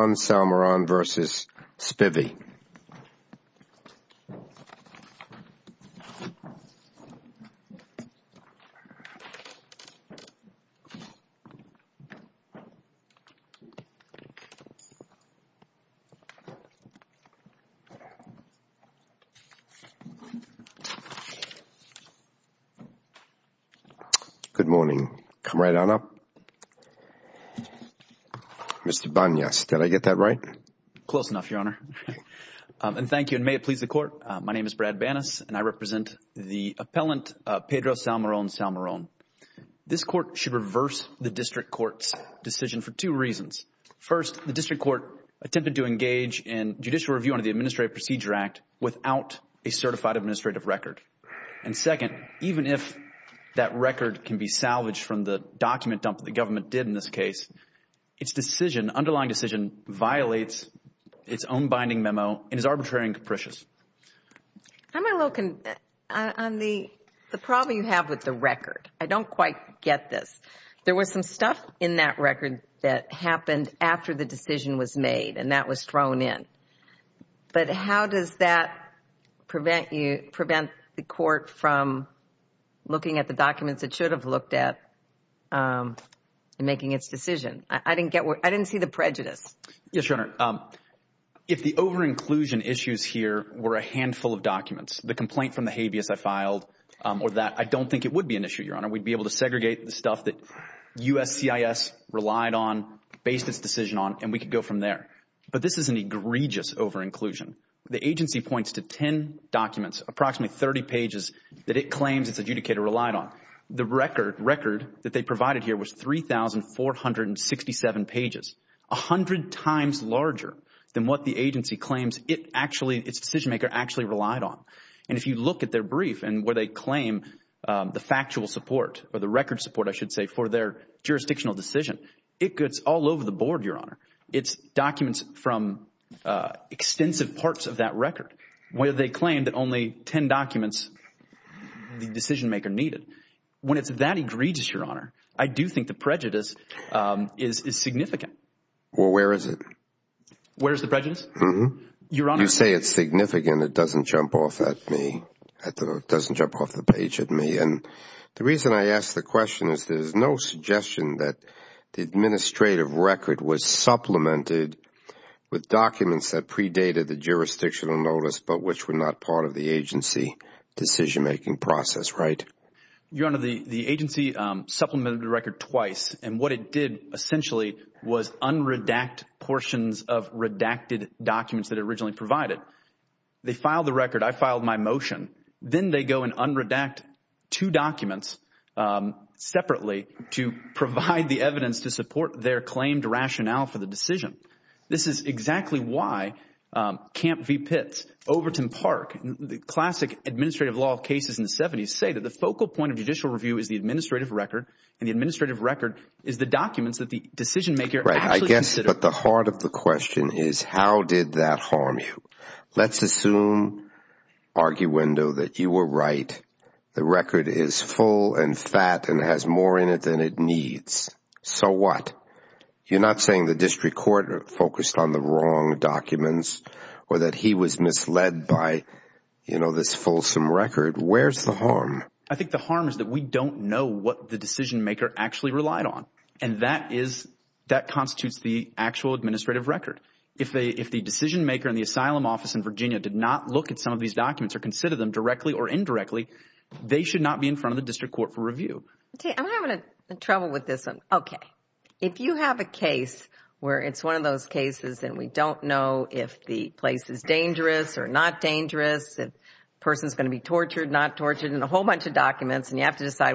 Good morning, Comrade Anna. My name is Brad Banas and I represent the appellant Pedro Salmeron-Salmeron. This Court should reverse the District Court's decision for two reasons. First, the District Court attempted to engage in judicial review under the Administrative Procedure Act without a certified administrative record. Second, even if that record can be salvaged from the document dump that the government did in this case, its underlying decision violates its own binding memo and is arbitrary and capricious. I'm a little con… on the problem you have with the record. I don't quite get this. There was some stuff in that record that happened after the decision was made and that was thrown in, but how does that prevent you… prevent the Court from looking at the documents it should have looked at in making its decision? I didn't get where… I didn't see the prejudice. Yes, Your Honor. If the over-inclusion issues here were a handful of documents, the complaint from the habeas I filed or that, I don't think it would be an issue, Your Honor. We'd be able to segregate the stuff that USCIS relied on, based its decision on, and we could go from there. But this is an egregious over-inclusion. The agency points to 10 documents, approximately 30 pages, that it claims its adjudicator relied on. The record… record that they provided here was 3,467 pages. A hundred times larger than what the agency claims it actually… its decision maker actually relied on. And if you look at their brief and where they claim the factual support or the record support, I should say, for their jurisdictional decision, it gets all over the board, Your Honor. It's documents from extensive parts of that record where they claim that only 10 documents the decision maker needed. When it's that egregious, Your Honor, I do think the prejudice is significant. Well, where is it? Where is the prejudice? Mm-hmm. You say it's significant. It doesn't jump off at me. It doesn't jump off the page at me. And the reason I ask the question is there's no suggestion that the administrative record was supplemented with documents that predated the jurisdictional notice but which were not part of the agency decision-making process, right? Your Honor, the agency supplemented the record twice. And what it did essentially was un-redact portions of redacted documents that it originally provided. They filed the record. I filed my motion. Then they go and un-redact two documents separately to provide the evidence to support their claimed rationale for the decision. This is exactly why Camp v. Pitts, Overton Park, the classic administrative law cases in the 70s say that the focal point of judicial review is the administrative record and the administrative record is the documents that the decision-maker actually considered. Right. I guess but the heart of the question is how did that harm you? Let's assume, arguendo, that you were right. The record is full and fat and has more in it than it needs. So what? You're not saying the district court focused on the wrong documents or that he was misled by this fulsome record. Where's the harm? I think the harm is that we don't know what the decision-maker actually relied on. And that constitutes the actual administrative record. If the decision-maker in the asylum office in Virginia did not look at some of these documents or consider them directly or indirectly, they should not be in front of the district court for review. I'm having trouble with this one. Okay. If you have a case where it's one of those cases and we don't know if the place is dangerous or not dangerous, if a person is going to be tortured, not tortured, and a whole bunch of documents and you have to decide.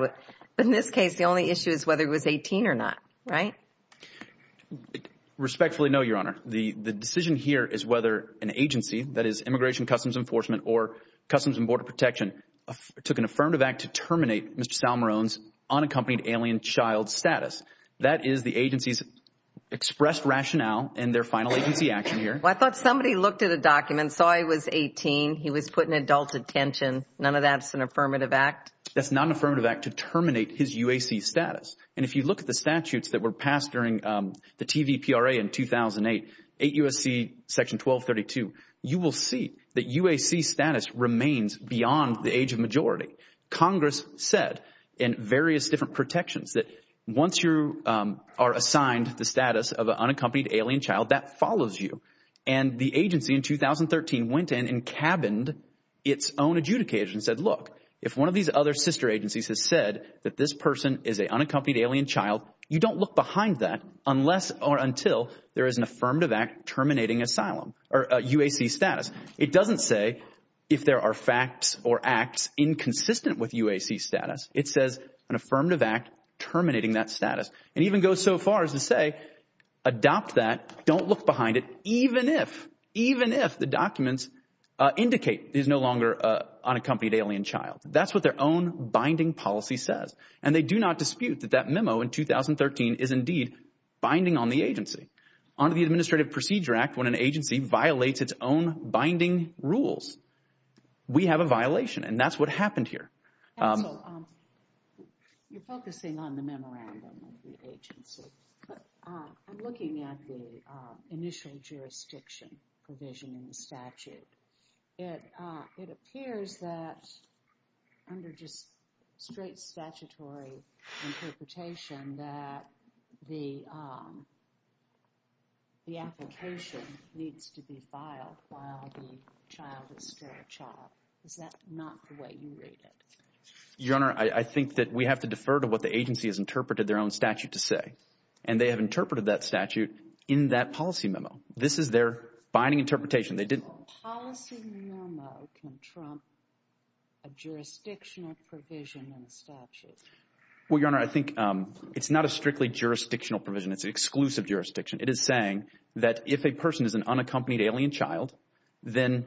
But in this case, the only issue is whether he was 18 or not. Right? Respectfully, no, Your Honor. The decision here is whether an agency, that is, Immigration and Customs Enforcement or Customs and Border Protection, took an affirmative act to terminate Mr. Salmarone's unaccompanied alien child status. That is the agency's expressed rationale in their final agency action here. Well, I thought somebody looked at a document, saw he was 18, he was put in adult detention. None of that's an affirmative act? That's not an affirmative act to terminate his UAC status. And if you look at the statutes that were passed during the TVPRA in 2008, 8 U.S.C. Section 1232, you will see that UAC status remains beyond the age of majority. Congress said in various different protections that once you are assigned the status of an agency in 2013 went in and cabined its own adjudicators and said, look, if one of these other sister agencies has said that this person is an unaccompanied alien child, you don't look behind that unless or until there is an affirmative act terminating asylum or UAC status. It doesn't say if there are facts or acts inconsistent with UAC status. It says an affirmative act terminating that status. It even goes so far as to say adopt that, don't look behind it, even if, even if the documents indicate he's no longer an unaccompanied alien child. That's what their own binding policy says. And they do not dispute that that memo in 2013 is indeed binding on the agency. Under the Administrative Procedure Act, when an agency violates its own binding rules, we have a violation. And that's what happened here. Counsel, you're focusing on the memorandum of the agency, but I'm looking at the initial jurisdiction provision in the statute. It appears that under just straight statutory interpretation that the application needs to be filed while the child is still a child. Is that not the way you read it? Your Honor, I think that we have to defer to what the agency has interpreted their own statute to say. And they have interpreted that statute in that policy memo. This is their binding interpretation. A policy memo can trump a jurisdictional provision in a statute. Well, Your Honor, I think it's not a strictly jurisdictional provision. It's an exclusive jurisdiction. It is saying that if a person is an unaccompanied alien child, then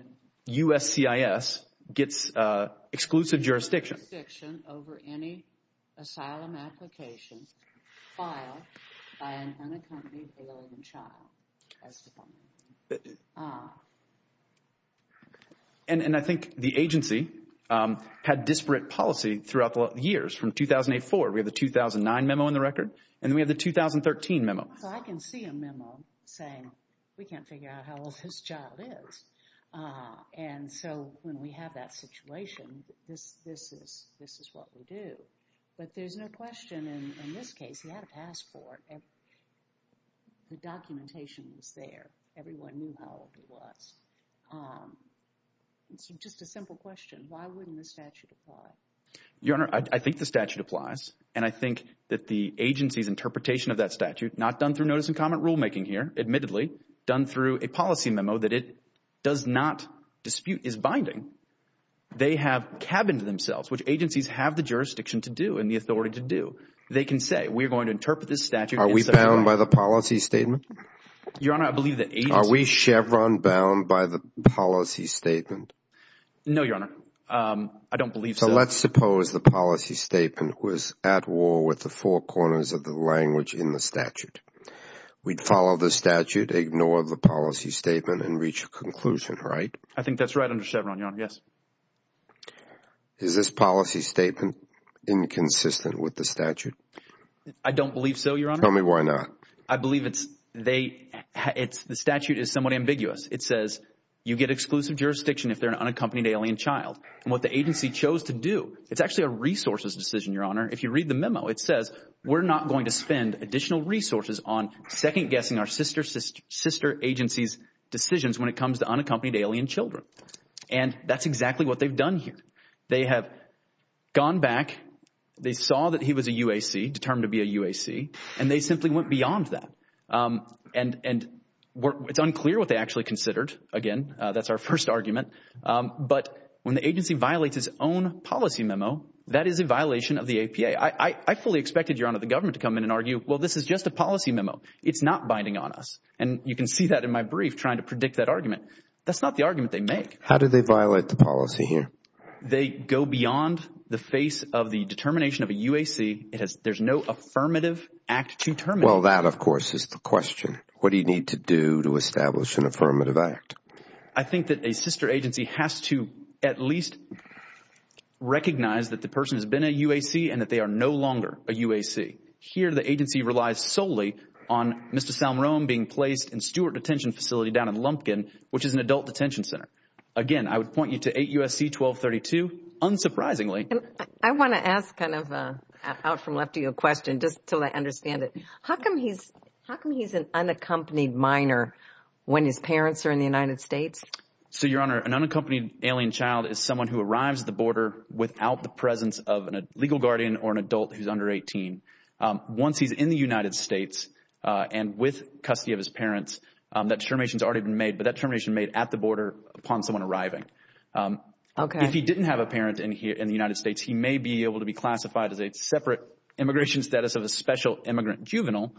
USCIS gets exclusive jurisdiction. Exclusive jurisdiction over any asylum application filed by an unaccompanied alien child. And I think the agency had disparate policy throughout the years. From 2008-4, we have the 2009 memo in the record. And then we have the 2013 memo. So I can see a memo saying we can't figure out how old this child is. And so when we have that situation, this is what we do. But there's no question in this case, he had a passport. The documentation was there. Everyone knew how old he was. It's just a simple question. Why wouldn't the statute apply? Your Honor, I think the statute applies. And I think that the agency's interpretation of that statute, not done through notice and comment rulemaking here, admittedly, done through a policy memo that it does not dispute is binding. They have cabined themselves, which agencies have the jurisdiction to do and the authority to do. They can say, we're going to interpret this statute. Are we bound by the policy statement? Your Honor, I believe the agency. Are we Chevron bound by the policy statement? No, Your Honor. I don't believe so. Let's suppose the policy statement was at war with the four corners of the language in the statute. We'd follow the statute, ignore the policy statement, and reach a conclusion, right? I think that's right under Chevron, Your Honor, yes. Is this policy statement inconsistent with the statute? I don't believe so, Your Honor. Tell me why not. I believe it's they – the statute is somewhat ambiguous. It says you get exclusive jurisdiction if they're an unaccompanied alien child. And what the agency chose to do, it's actually a resources decision, Your Honor. If you read the memo, it says we're not going to spend additional resources on second-guessing our sister agency's decisions when it comes to unaccompanied alien children. And that's exactly what they've done here. They have gone back. They saw that he was a UAC, determined to be a UAC, and they simply went beyond that. And it's unclear what they actually considered. Again, that's our first argument. But when the agency violates its own policy memo, that is a violation of the APA. I fully expected, Your Honor, the government to come in and argue, well, this is just a policy memo. It's not binding on us. And you can see that in my brief trying to predict that argument. That's not the argument they make. How do they violate the policy here? They go beyond the face of the determination of a UAC. There's no affirmative act to terminate. Well, that, of course, is the question. What do you need to do to establish an affirmative act? I think that a sister agency has to at least recognize that the person has been a UAC and that they are no longer a UAC. Here the agency relies solely on Mr. Salmerone being placed in Stewart Detention Facility down in Lumpkin, which is an adult detention center. Again, I would point you to 8 U.S.C. 1232. Unsurprisingly. I want to ask kind of an out-from-left-of-you question just until I understand it. How come he's an unaccompanied minor when his parents are in the United States? So, Your Honor, an unaccompanied alien child is someone who arrives at the border without the presence of a legal guardian or an adult who's under 18. Once he's in the United States and with custody of his parents, that determination has already been made, but that determination is made at the border upon someone arriving. If he didn't have a parent in the United States, he may be able to be classified as a separate immigration status of a special immigrant juvenile,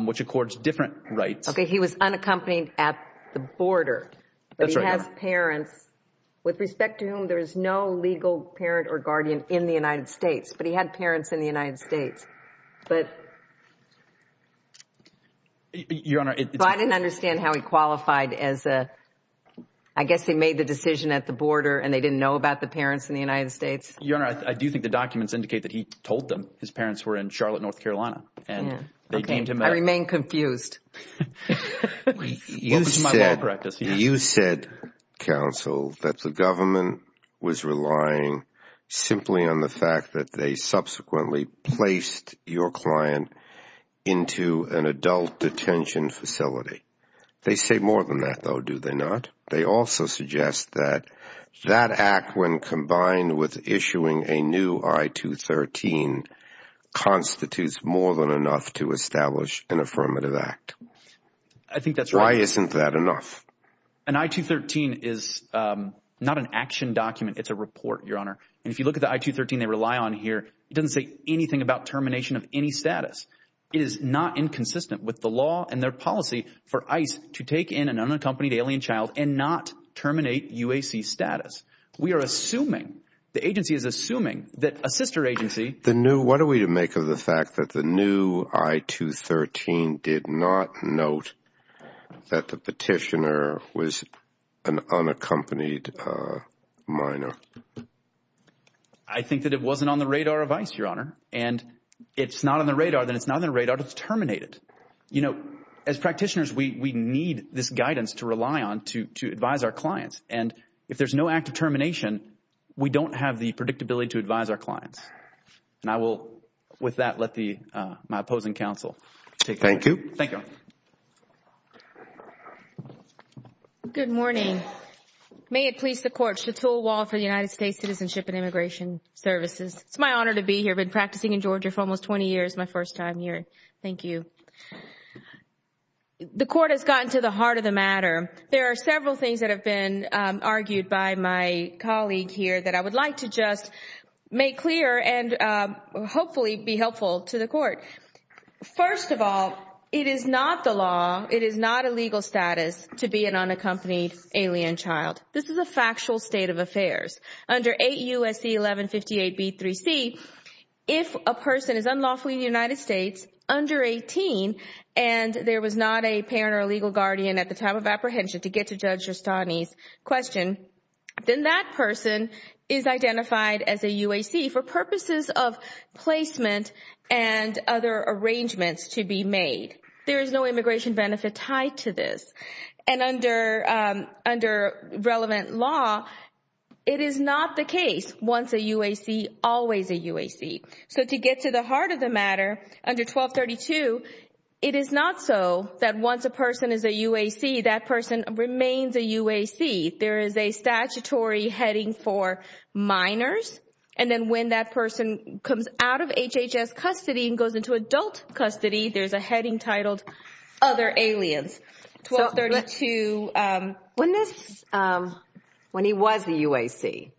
which accords different rights. Okay, he was unaccompanied at the border. That's right. But he has parents with respect to whom there is no legal parent or guardian in the United States. But he had parents in the United States. But— Your Honor, it's— So I didn't understand how he qualified as a— I guess he made the decision at the border and they didn't know about the parents in the United States. Your Honor, I do think the documents indicate that he told them his parents were in Charlotte, North Carolina, and they came to him— I remain confused. What was my law practice? You said, counsel, that the government was relying simply on the fact that they subsequently placed your client into an adult detention facility. They say more than that, though, do they not? They also suggest that that act, when combined with issuing a new I-213, constitutes more than enough to establish an affirmative act. I think that's right. Why isn't that enough? An I-213 is not an action document. It's a report, Your Honor. And if you look at the I-213 they rely on here, it doesn't say anything about termination of any status. It is not inconsistent with the law and their policy for ICE to take in an unaccompanied alien child and not terminate UAC status. We are assuming—the agency is assuming that a sister agency— The new—what are we to make of the fact that the new I-213 did not note that the petitioner was an unaccompanied minor? I think that it wasn't on the radar of ICE, Your Honor. And if it's not on the radar, then it's not on the radar to terminate it. As practitioners, we need this guidance to rely on to advise our clients. And if there's no act of termination, we don't have the predictability to advise our clients. And I will, with that, let my opposing counsel take that. Thank you. Thank you. Good morning. May it please the Court. Chateau Wall for the United States Citizenship and Immigration Services. It's my honor to be here. I've been practicing in Georgia for almost 20 years. It's my first time here. Thank you. The Court has gotten to the heart of the matter. There are several things that have been argued by my colleague here that I would like to just make clear and hopefully be helpful to the Court. First of all, it is not the law, it is not a legal status to be an unaccompanied alien child. This is a factual state of affairs. Under 8 U.S.C. 1158B3C, if a person is unlawfully in the United States under 18 and there was not a parent or legal guardian at the time of apprehension to get to Judge Giustani's question, then that person is identified as a UAC for purposes of placement and other arrangements to be made. There is no immigration benefit tied to this. And under relevant law, it is not the case once a UAC, always a UAC. So to get to the heart of the matter, under 1232, it is not so that once a person is a UAC, that person remains a UAC. There is a statutory heading for minors. And then when that person comes out of HHS custody and goes into adult custody, there's a heading titled Other Aliens. When he was a UAC,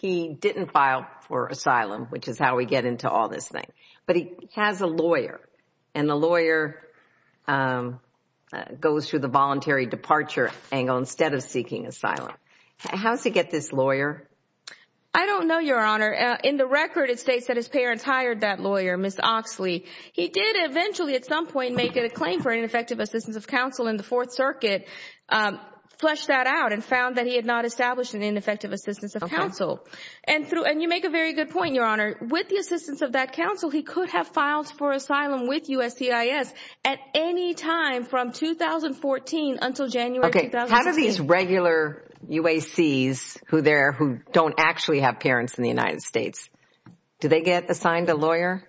he didn't file for asylum, which is how we get into all this thing. But he has a lawyer. And the lawyer goes through the voluntary departure angle instead of seeking asylum. How does he get this lawyer? I don't know, Your Honor. In the record, it states that his parents hired that lawyer, Ms. Oxley. He did eventually at some point make a claim for ineffective assistance of counsel in the Fourth Circuit, fleshed that out and found that he had not established an ineffective assistance of counsel. And you make a very good point, Your Honor. With the assistance of that counsel, he could have filed for asylum with USCIS at any time from 2014 until January 2016. How do these regular UACs who don't actually have parents in the United States, do they get assigned a lawyer?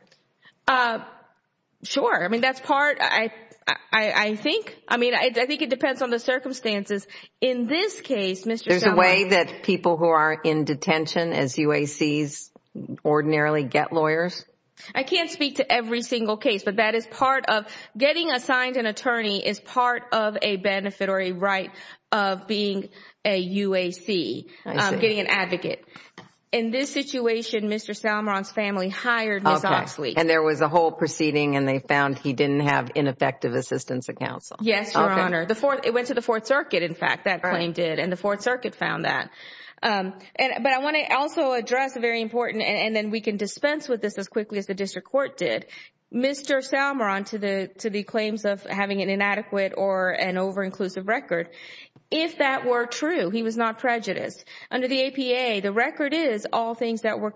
Sure. I mean, that's part. I think. I mean, I think it depends on the circumstances. In this case, Mr. Salmaron. There's a way that people who are in detention as UACs ordinarily get lawyers? I can't speak to every single case, but that is part of getting assigned an attorney is part of a benefit or a right of being a UAC, getting an advocate. In this situation, Mr. Salmaron's family hired Ms. Oxley. And there was a whole proceeding and they found he didn't have ineffective assistance of counsel. Yes, Your Honor. It went to the Fourth Circuit, in fact, that claim did, and the Fourth Circuit found that. But I want to also address a very important, and then we can dispense with this as quickly as the district court did. Mr. Salmaron, to the claims of having an inadequate or an over-inclusive record, if that were true, he was not prejudiced. Under the APA, the record is all things that were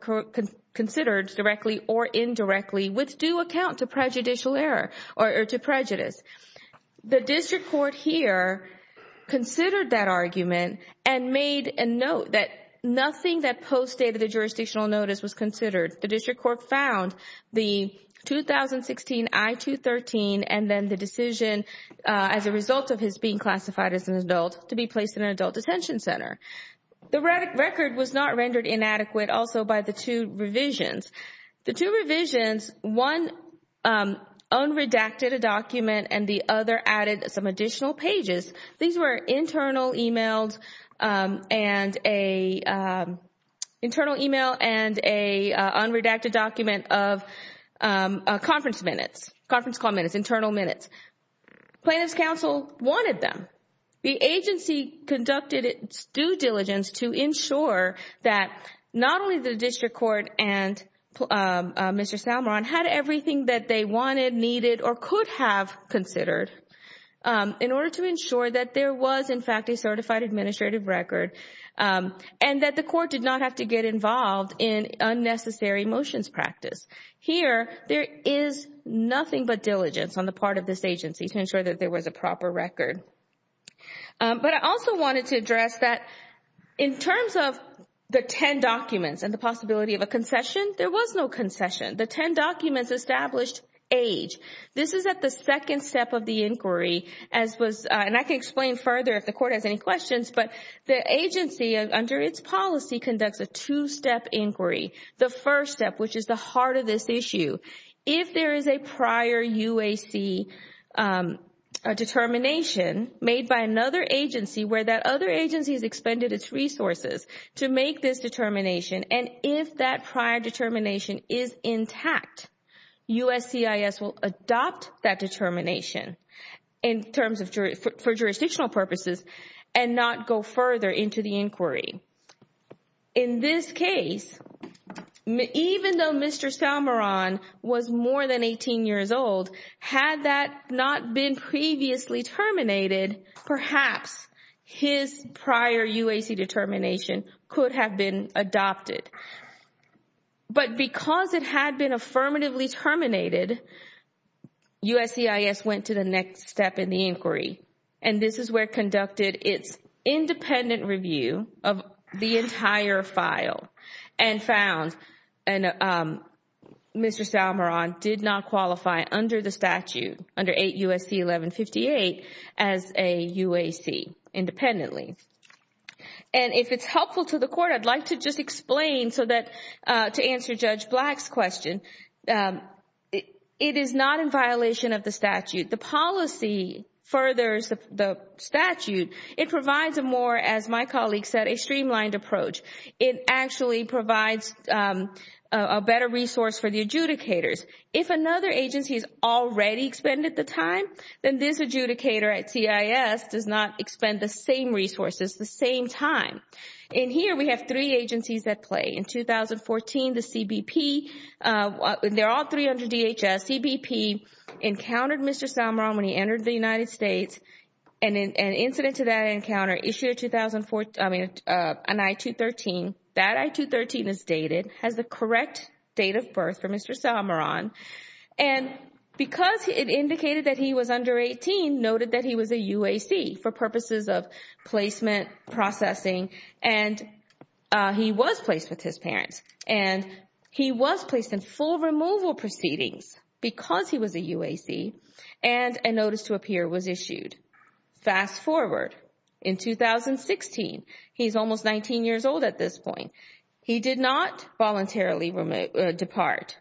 considered directly or indirectly with due account to prejudicial error or to prejudice. The district court here considered that argument and made a note that nothing that postdated the jurisdictional notice was considered. The district court found the 2016 I-213 and then the decision as a result of his being classified as an adult to be placed in an adult detention center. The record was not rendered inadequate also by the two revisions. The two revisions, one unredacted a document and the other added some additional pages. These were internal emails and a unredacted document of conference minutes, conference call minutes, internal minutes. Plaintiff's counsel wanted them. However, the agency conducted its due diligence to ensure that not only the district court and Mr. Salmaron had everything that they wanted, needed, or could have considered in order to ensure that there was, in fact, a certified administrative record and that the court did not have to get involved in unnecessary motions practice. Here, there is nothing but diligence on the part of this agency to ensure that there was a proper record. But I also wanted to address that in terms of the 10 documents and the possibility of a concession, there was no concession. The 10 documents established age. This is at the second step of the inquiry, and I can explain further if the court has any questions, but the agency under its policy conducts a two-step inquiry. The first step, which is the heart of this issue, if there is a prior UAC determination made by another agency where that other agency has expended its resources to make this determination, and if that prior determination is intact, USCIS will adopt that determination for jurisdictional purposes In this case, even though Mr. Salmaron was more than 18 years old, had that not been previously terminated, perhaps his prior UAC determination could have been adopted. But because it had been affirmatively terminated, USCIS went to the next step in the inquiry, and this is where it conducted its independent review of the entire file, and found Mr. Salmaron did not qualify under the statute, under 8 U.S.C. 1158, as a UAC independently. And if it's helpful to the court, I'd like to just explain so that to answer Judge Black's question, it is not in violation of the statute. The policy furthers the statute. It provides a more, as my colleague said, a streamlined approach. It actually provides a better resource for the adjudicators. If another agency has already expended the time, then this adjudicator at CIS does not expend the same resources the same time. In here, we have three agencies at play. In 2014, the CBP, they're all 300 DHS. CBP encountered Mr. Salmaron when he entered the United States, and an incident to that encounter issued an I-213. That I-213 is dated, has the correct date of birth for Mr. Salmaron. And because it indicated that he was under 18, noted that he was a UAC for purposes of placement processing, and he was placed with his parents, and he was placed in full removal proceedings because he was a UAC, and a notice to appear was issued. Fast forward. In 2016, he's almost 19 years old at this point. He did not voluntarily depart.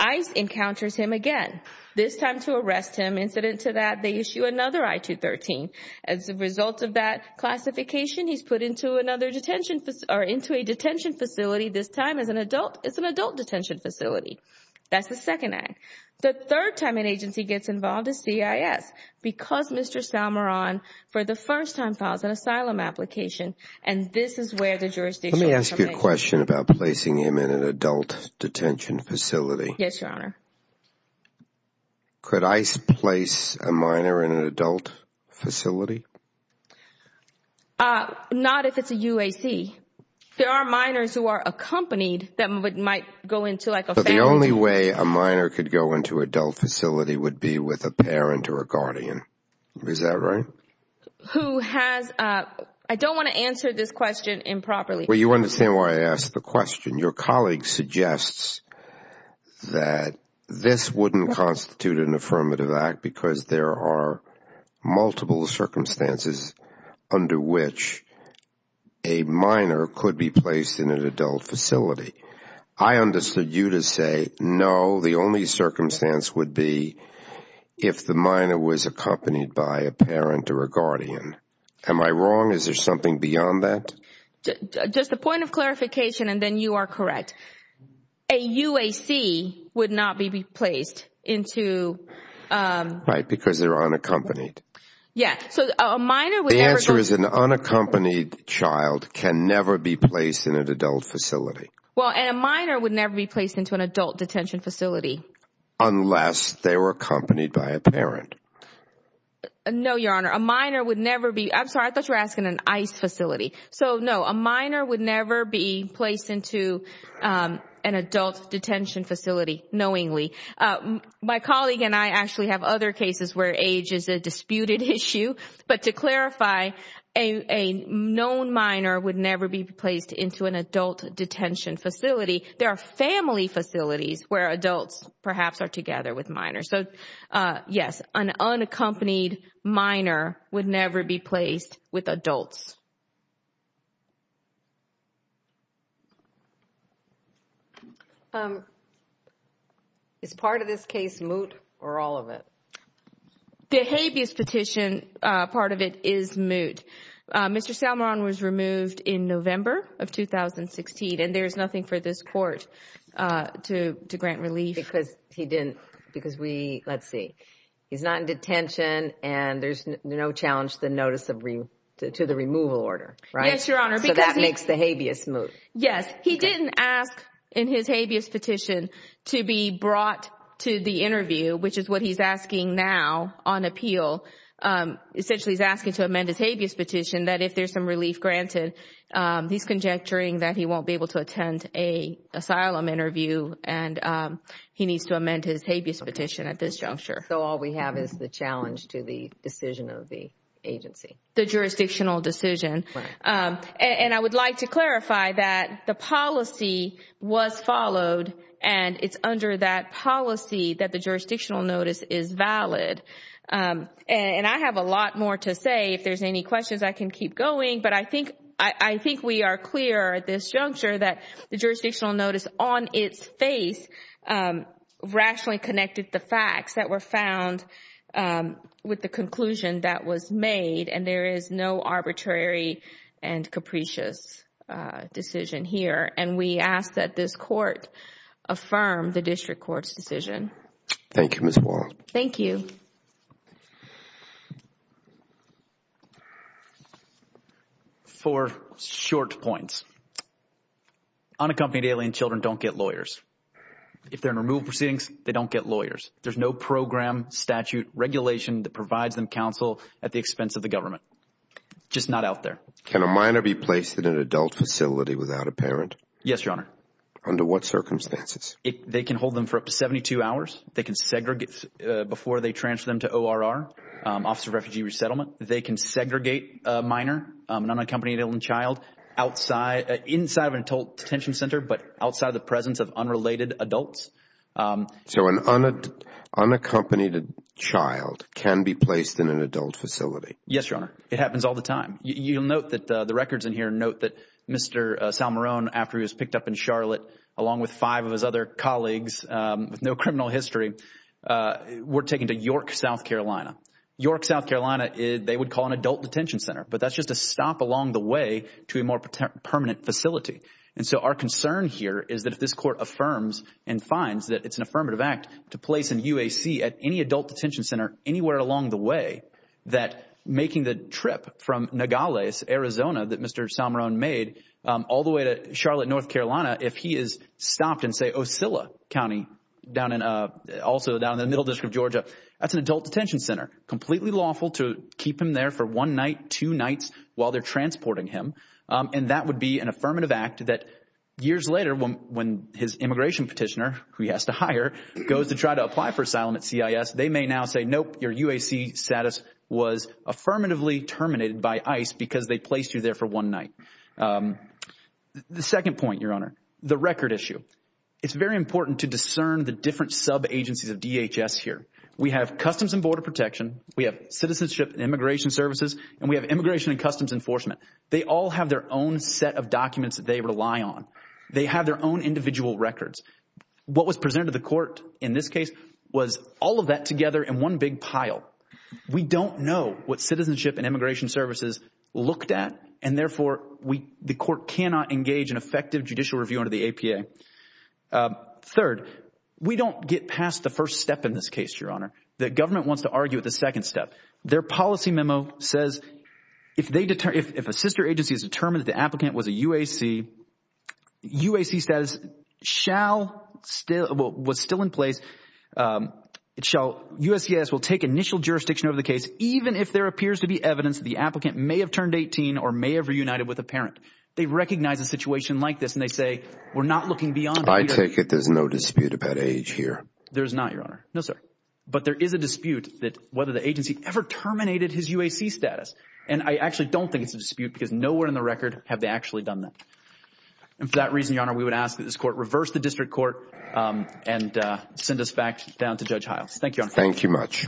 ICE encounters him again, this time to arrest him. Incident to that, they issue another I-213. As a result of that classification, he's put into another detention facility, or into a detention facility, this time as an adult. It's an adult detention facility. That's the second act. The third time an agency gets involved is CIS, because Mr. Salmaron, for the first time, files an asylum application, and this is where the jurisdiction comes in. Let me ask you a question about placing him in an adult detention facility. Yes, Your Honor. Could ICE place a minor in an adult facility? Not if it's a UAC. There are minors who are accompanied that might go into like a family. But the only way a minor could go into an adult facility would be with a parent or a guardian. Is that right? Who has – I don't want to answer this question improperly. Well, you understand why I asked the question. Your colleague suggests that this wouldn't constitute an affirmative act because there are multiple circumstances under which a minor could be placed in an adult facility. I understood you to say, no, the only circumstance would be if the minor was accompanied by a parent or a guardian. Am I wrong? Is there something beyond that? Just a point of clarification, and then you are correct. A UAC would not be placed into – Right, because they're unaccompanied. Yes, so a minor would never – The answer is an unaccompanied child can never be placed in an adult facility. Well, and a minor would never be placed into an adult detention facility. Unless they were accompanied by a parent. No, Your Honor. A minor would never be – I'm sorry. I thought you were asking an ICE facility. So, no, a minor would never be placed into an adult detention facility knowingly. My colleague and I actually have other cases where age is a disputed issue. But to clarify, a known minor would never be placed into an adult detention facility. There are family facilities where adults perhaps are together with minors. So, yes, an unaccompanied minor would never be placed with adults. Is part of this case moot or all of it? The habeas petition, part of it is moot. Mr. Salmon was removed in November of 2016, and there is nothing for this court to grant relief. Because he didn't – because we – let's see. He's not in detention, and there's no challenge to the removal order, right? Yes, Your Honor. So that makes the habeas moot. Yes. He didn't ask in his habeas petition to be brought to the interview, which is what he's asking now on appeal. Essentially, he's asking to amend his habeas petition that if there's some relief granted, he's conjecturing that he won't be able to attend an asylum interview, and he needs to amend his habeas petition at this juncture. So all we have is the challenge to the decision of the agency. The jurisdictional decision. Right. And I would like to clarify that the policy was followed, and it's under that policy that the jurisdictional notice is valid. And I have a lot more to say. If there's any questions, I can keep going. But I think we are clear at this juncture that the jurisdictional notice on its face rationally connected the facts that were found with the conclusion that was made, and there is no arbitrary and capricious decision here. And we ask that this court affirm the district court's decision. Thank you, Ms. Moore. Thank you. For short points, unaccompanied alien children don't get lawyers. If they're in removal proceedings, they don't get lawyers. There's no program, statute, regulation that provides them counsel at the expense of the government. Just not out there. Can a minor be placed in an adult facility without a parent? Yes, Your Honor. Under what circumstances? They can hold them for up to 72 hours. They can segregate before they transfer them to ORR, Office of Refugee Resettlement. They can segregate a minor, an unaccompanied alien child, inside of an adult detention center, but outside of the presence of unrelated adults. So an unaccompanied child can be placed in an adult facility? Yes, Your Honor. It happens all the time. You'll note that the records in here note that Mr. Salmarone, after he was picked up in Charlotte, along with five of his other colleagues with no criminal history, were taken to York, South Carolina. York, South Carolina, they would call an adult detention center, but that's just a stop along the way to a more permanent facility. And so our concern here is that if this Court affirms and finds that it's an affirmative act to place an UAC at any adult detention center anywhere along the way, that making the trip from Nogales, Arizona, that Mr. Salmarone made, all the way to Charlotte, North Carolina, if he is stopped in, say, Osceola County, also down in the middle district of Georgia, that's an adult detention center, completely lawful to keep him there for one night, two nights, while they're transporting him, and that would be an affirmative act that years later, when his immigration petitioner, who he has to hire, goes to try to apply for asylum at CIS, they may now say, nope, your UAC status was affirmatively terminated by ICE because they placed you there for one night. The second point, Your Honor, the record issue. It's very important to discern the different sub-agencies of DHS here. We have Customs and Border Protection, we have Citizenship and Immigration Services, and we have Immigration and Customs Enforcement. They all have their own set of documents that they rely on. They have their own individual records. What was presented to the Court in this case was all of that together in one big pile. We don't know what Citizenship and Immigration Services looked at, and therefore the Court cannot engage in effective judicial review under the APA. Third, we don't get past the first step in this case, Your Honor. The government wants to argue at the second step. Their policy memo says if a sister agency has determined that the applicant was a UAC, UAC status was still in place, USCIS will take initial jurisdiction over the case even if there appears to be evidence that the applicant may have turned 18 or may have reunited with a parent. They recognize a situation like this, and they say we're not looking beyond that. I take it there's no dispute about age here. There's not, Your Honor. No, sir. But there is a dispute that whether the agency ever terminated his UAC status. And I actually don't think it's a dispute because nowhere in the record have they actually done that. And for that reason, Your Honor, we would ask that this Court reverse the district court and send us back down to Judge Hiles. Thank you, Your Honor. Thank you much.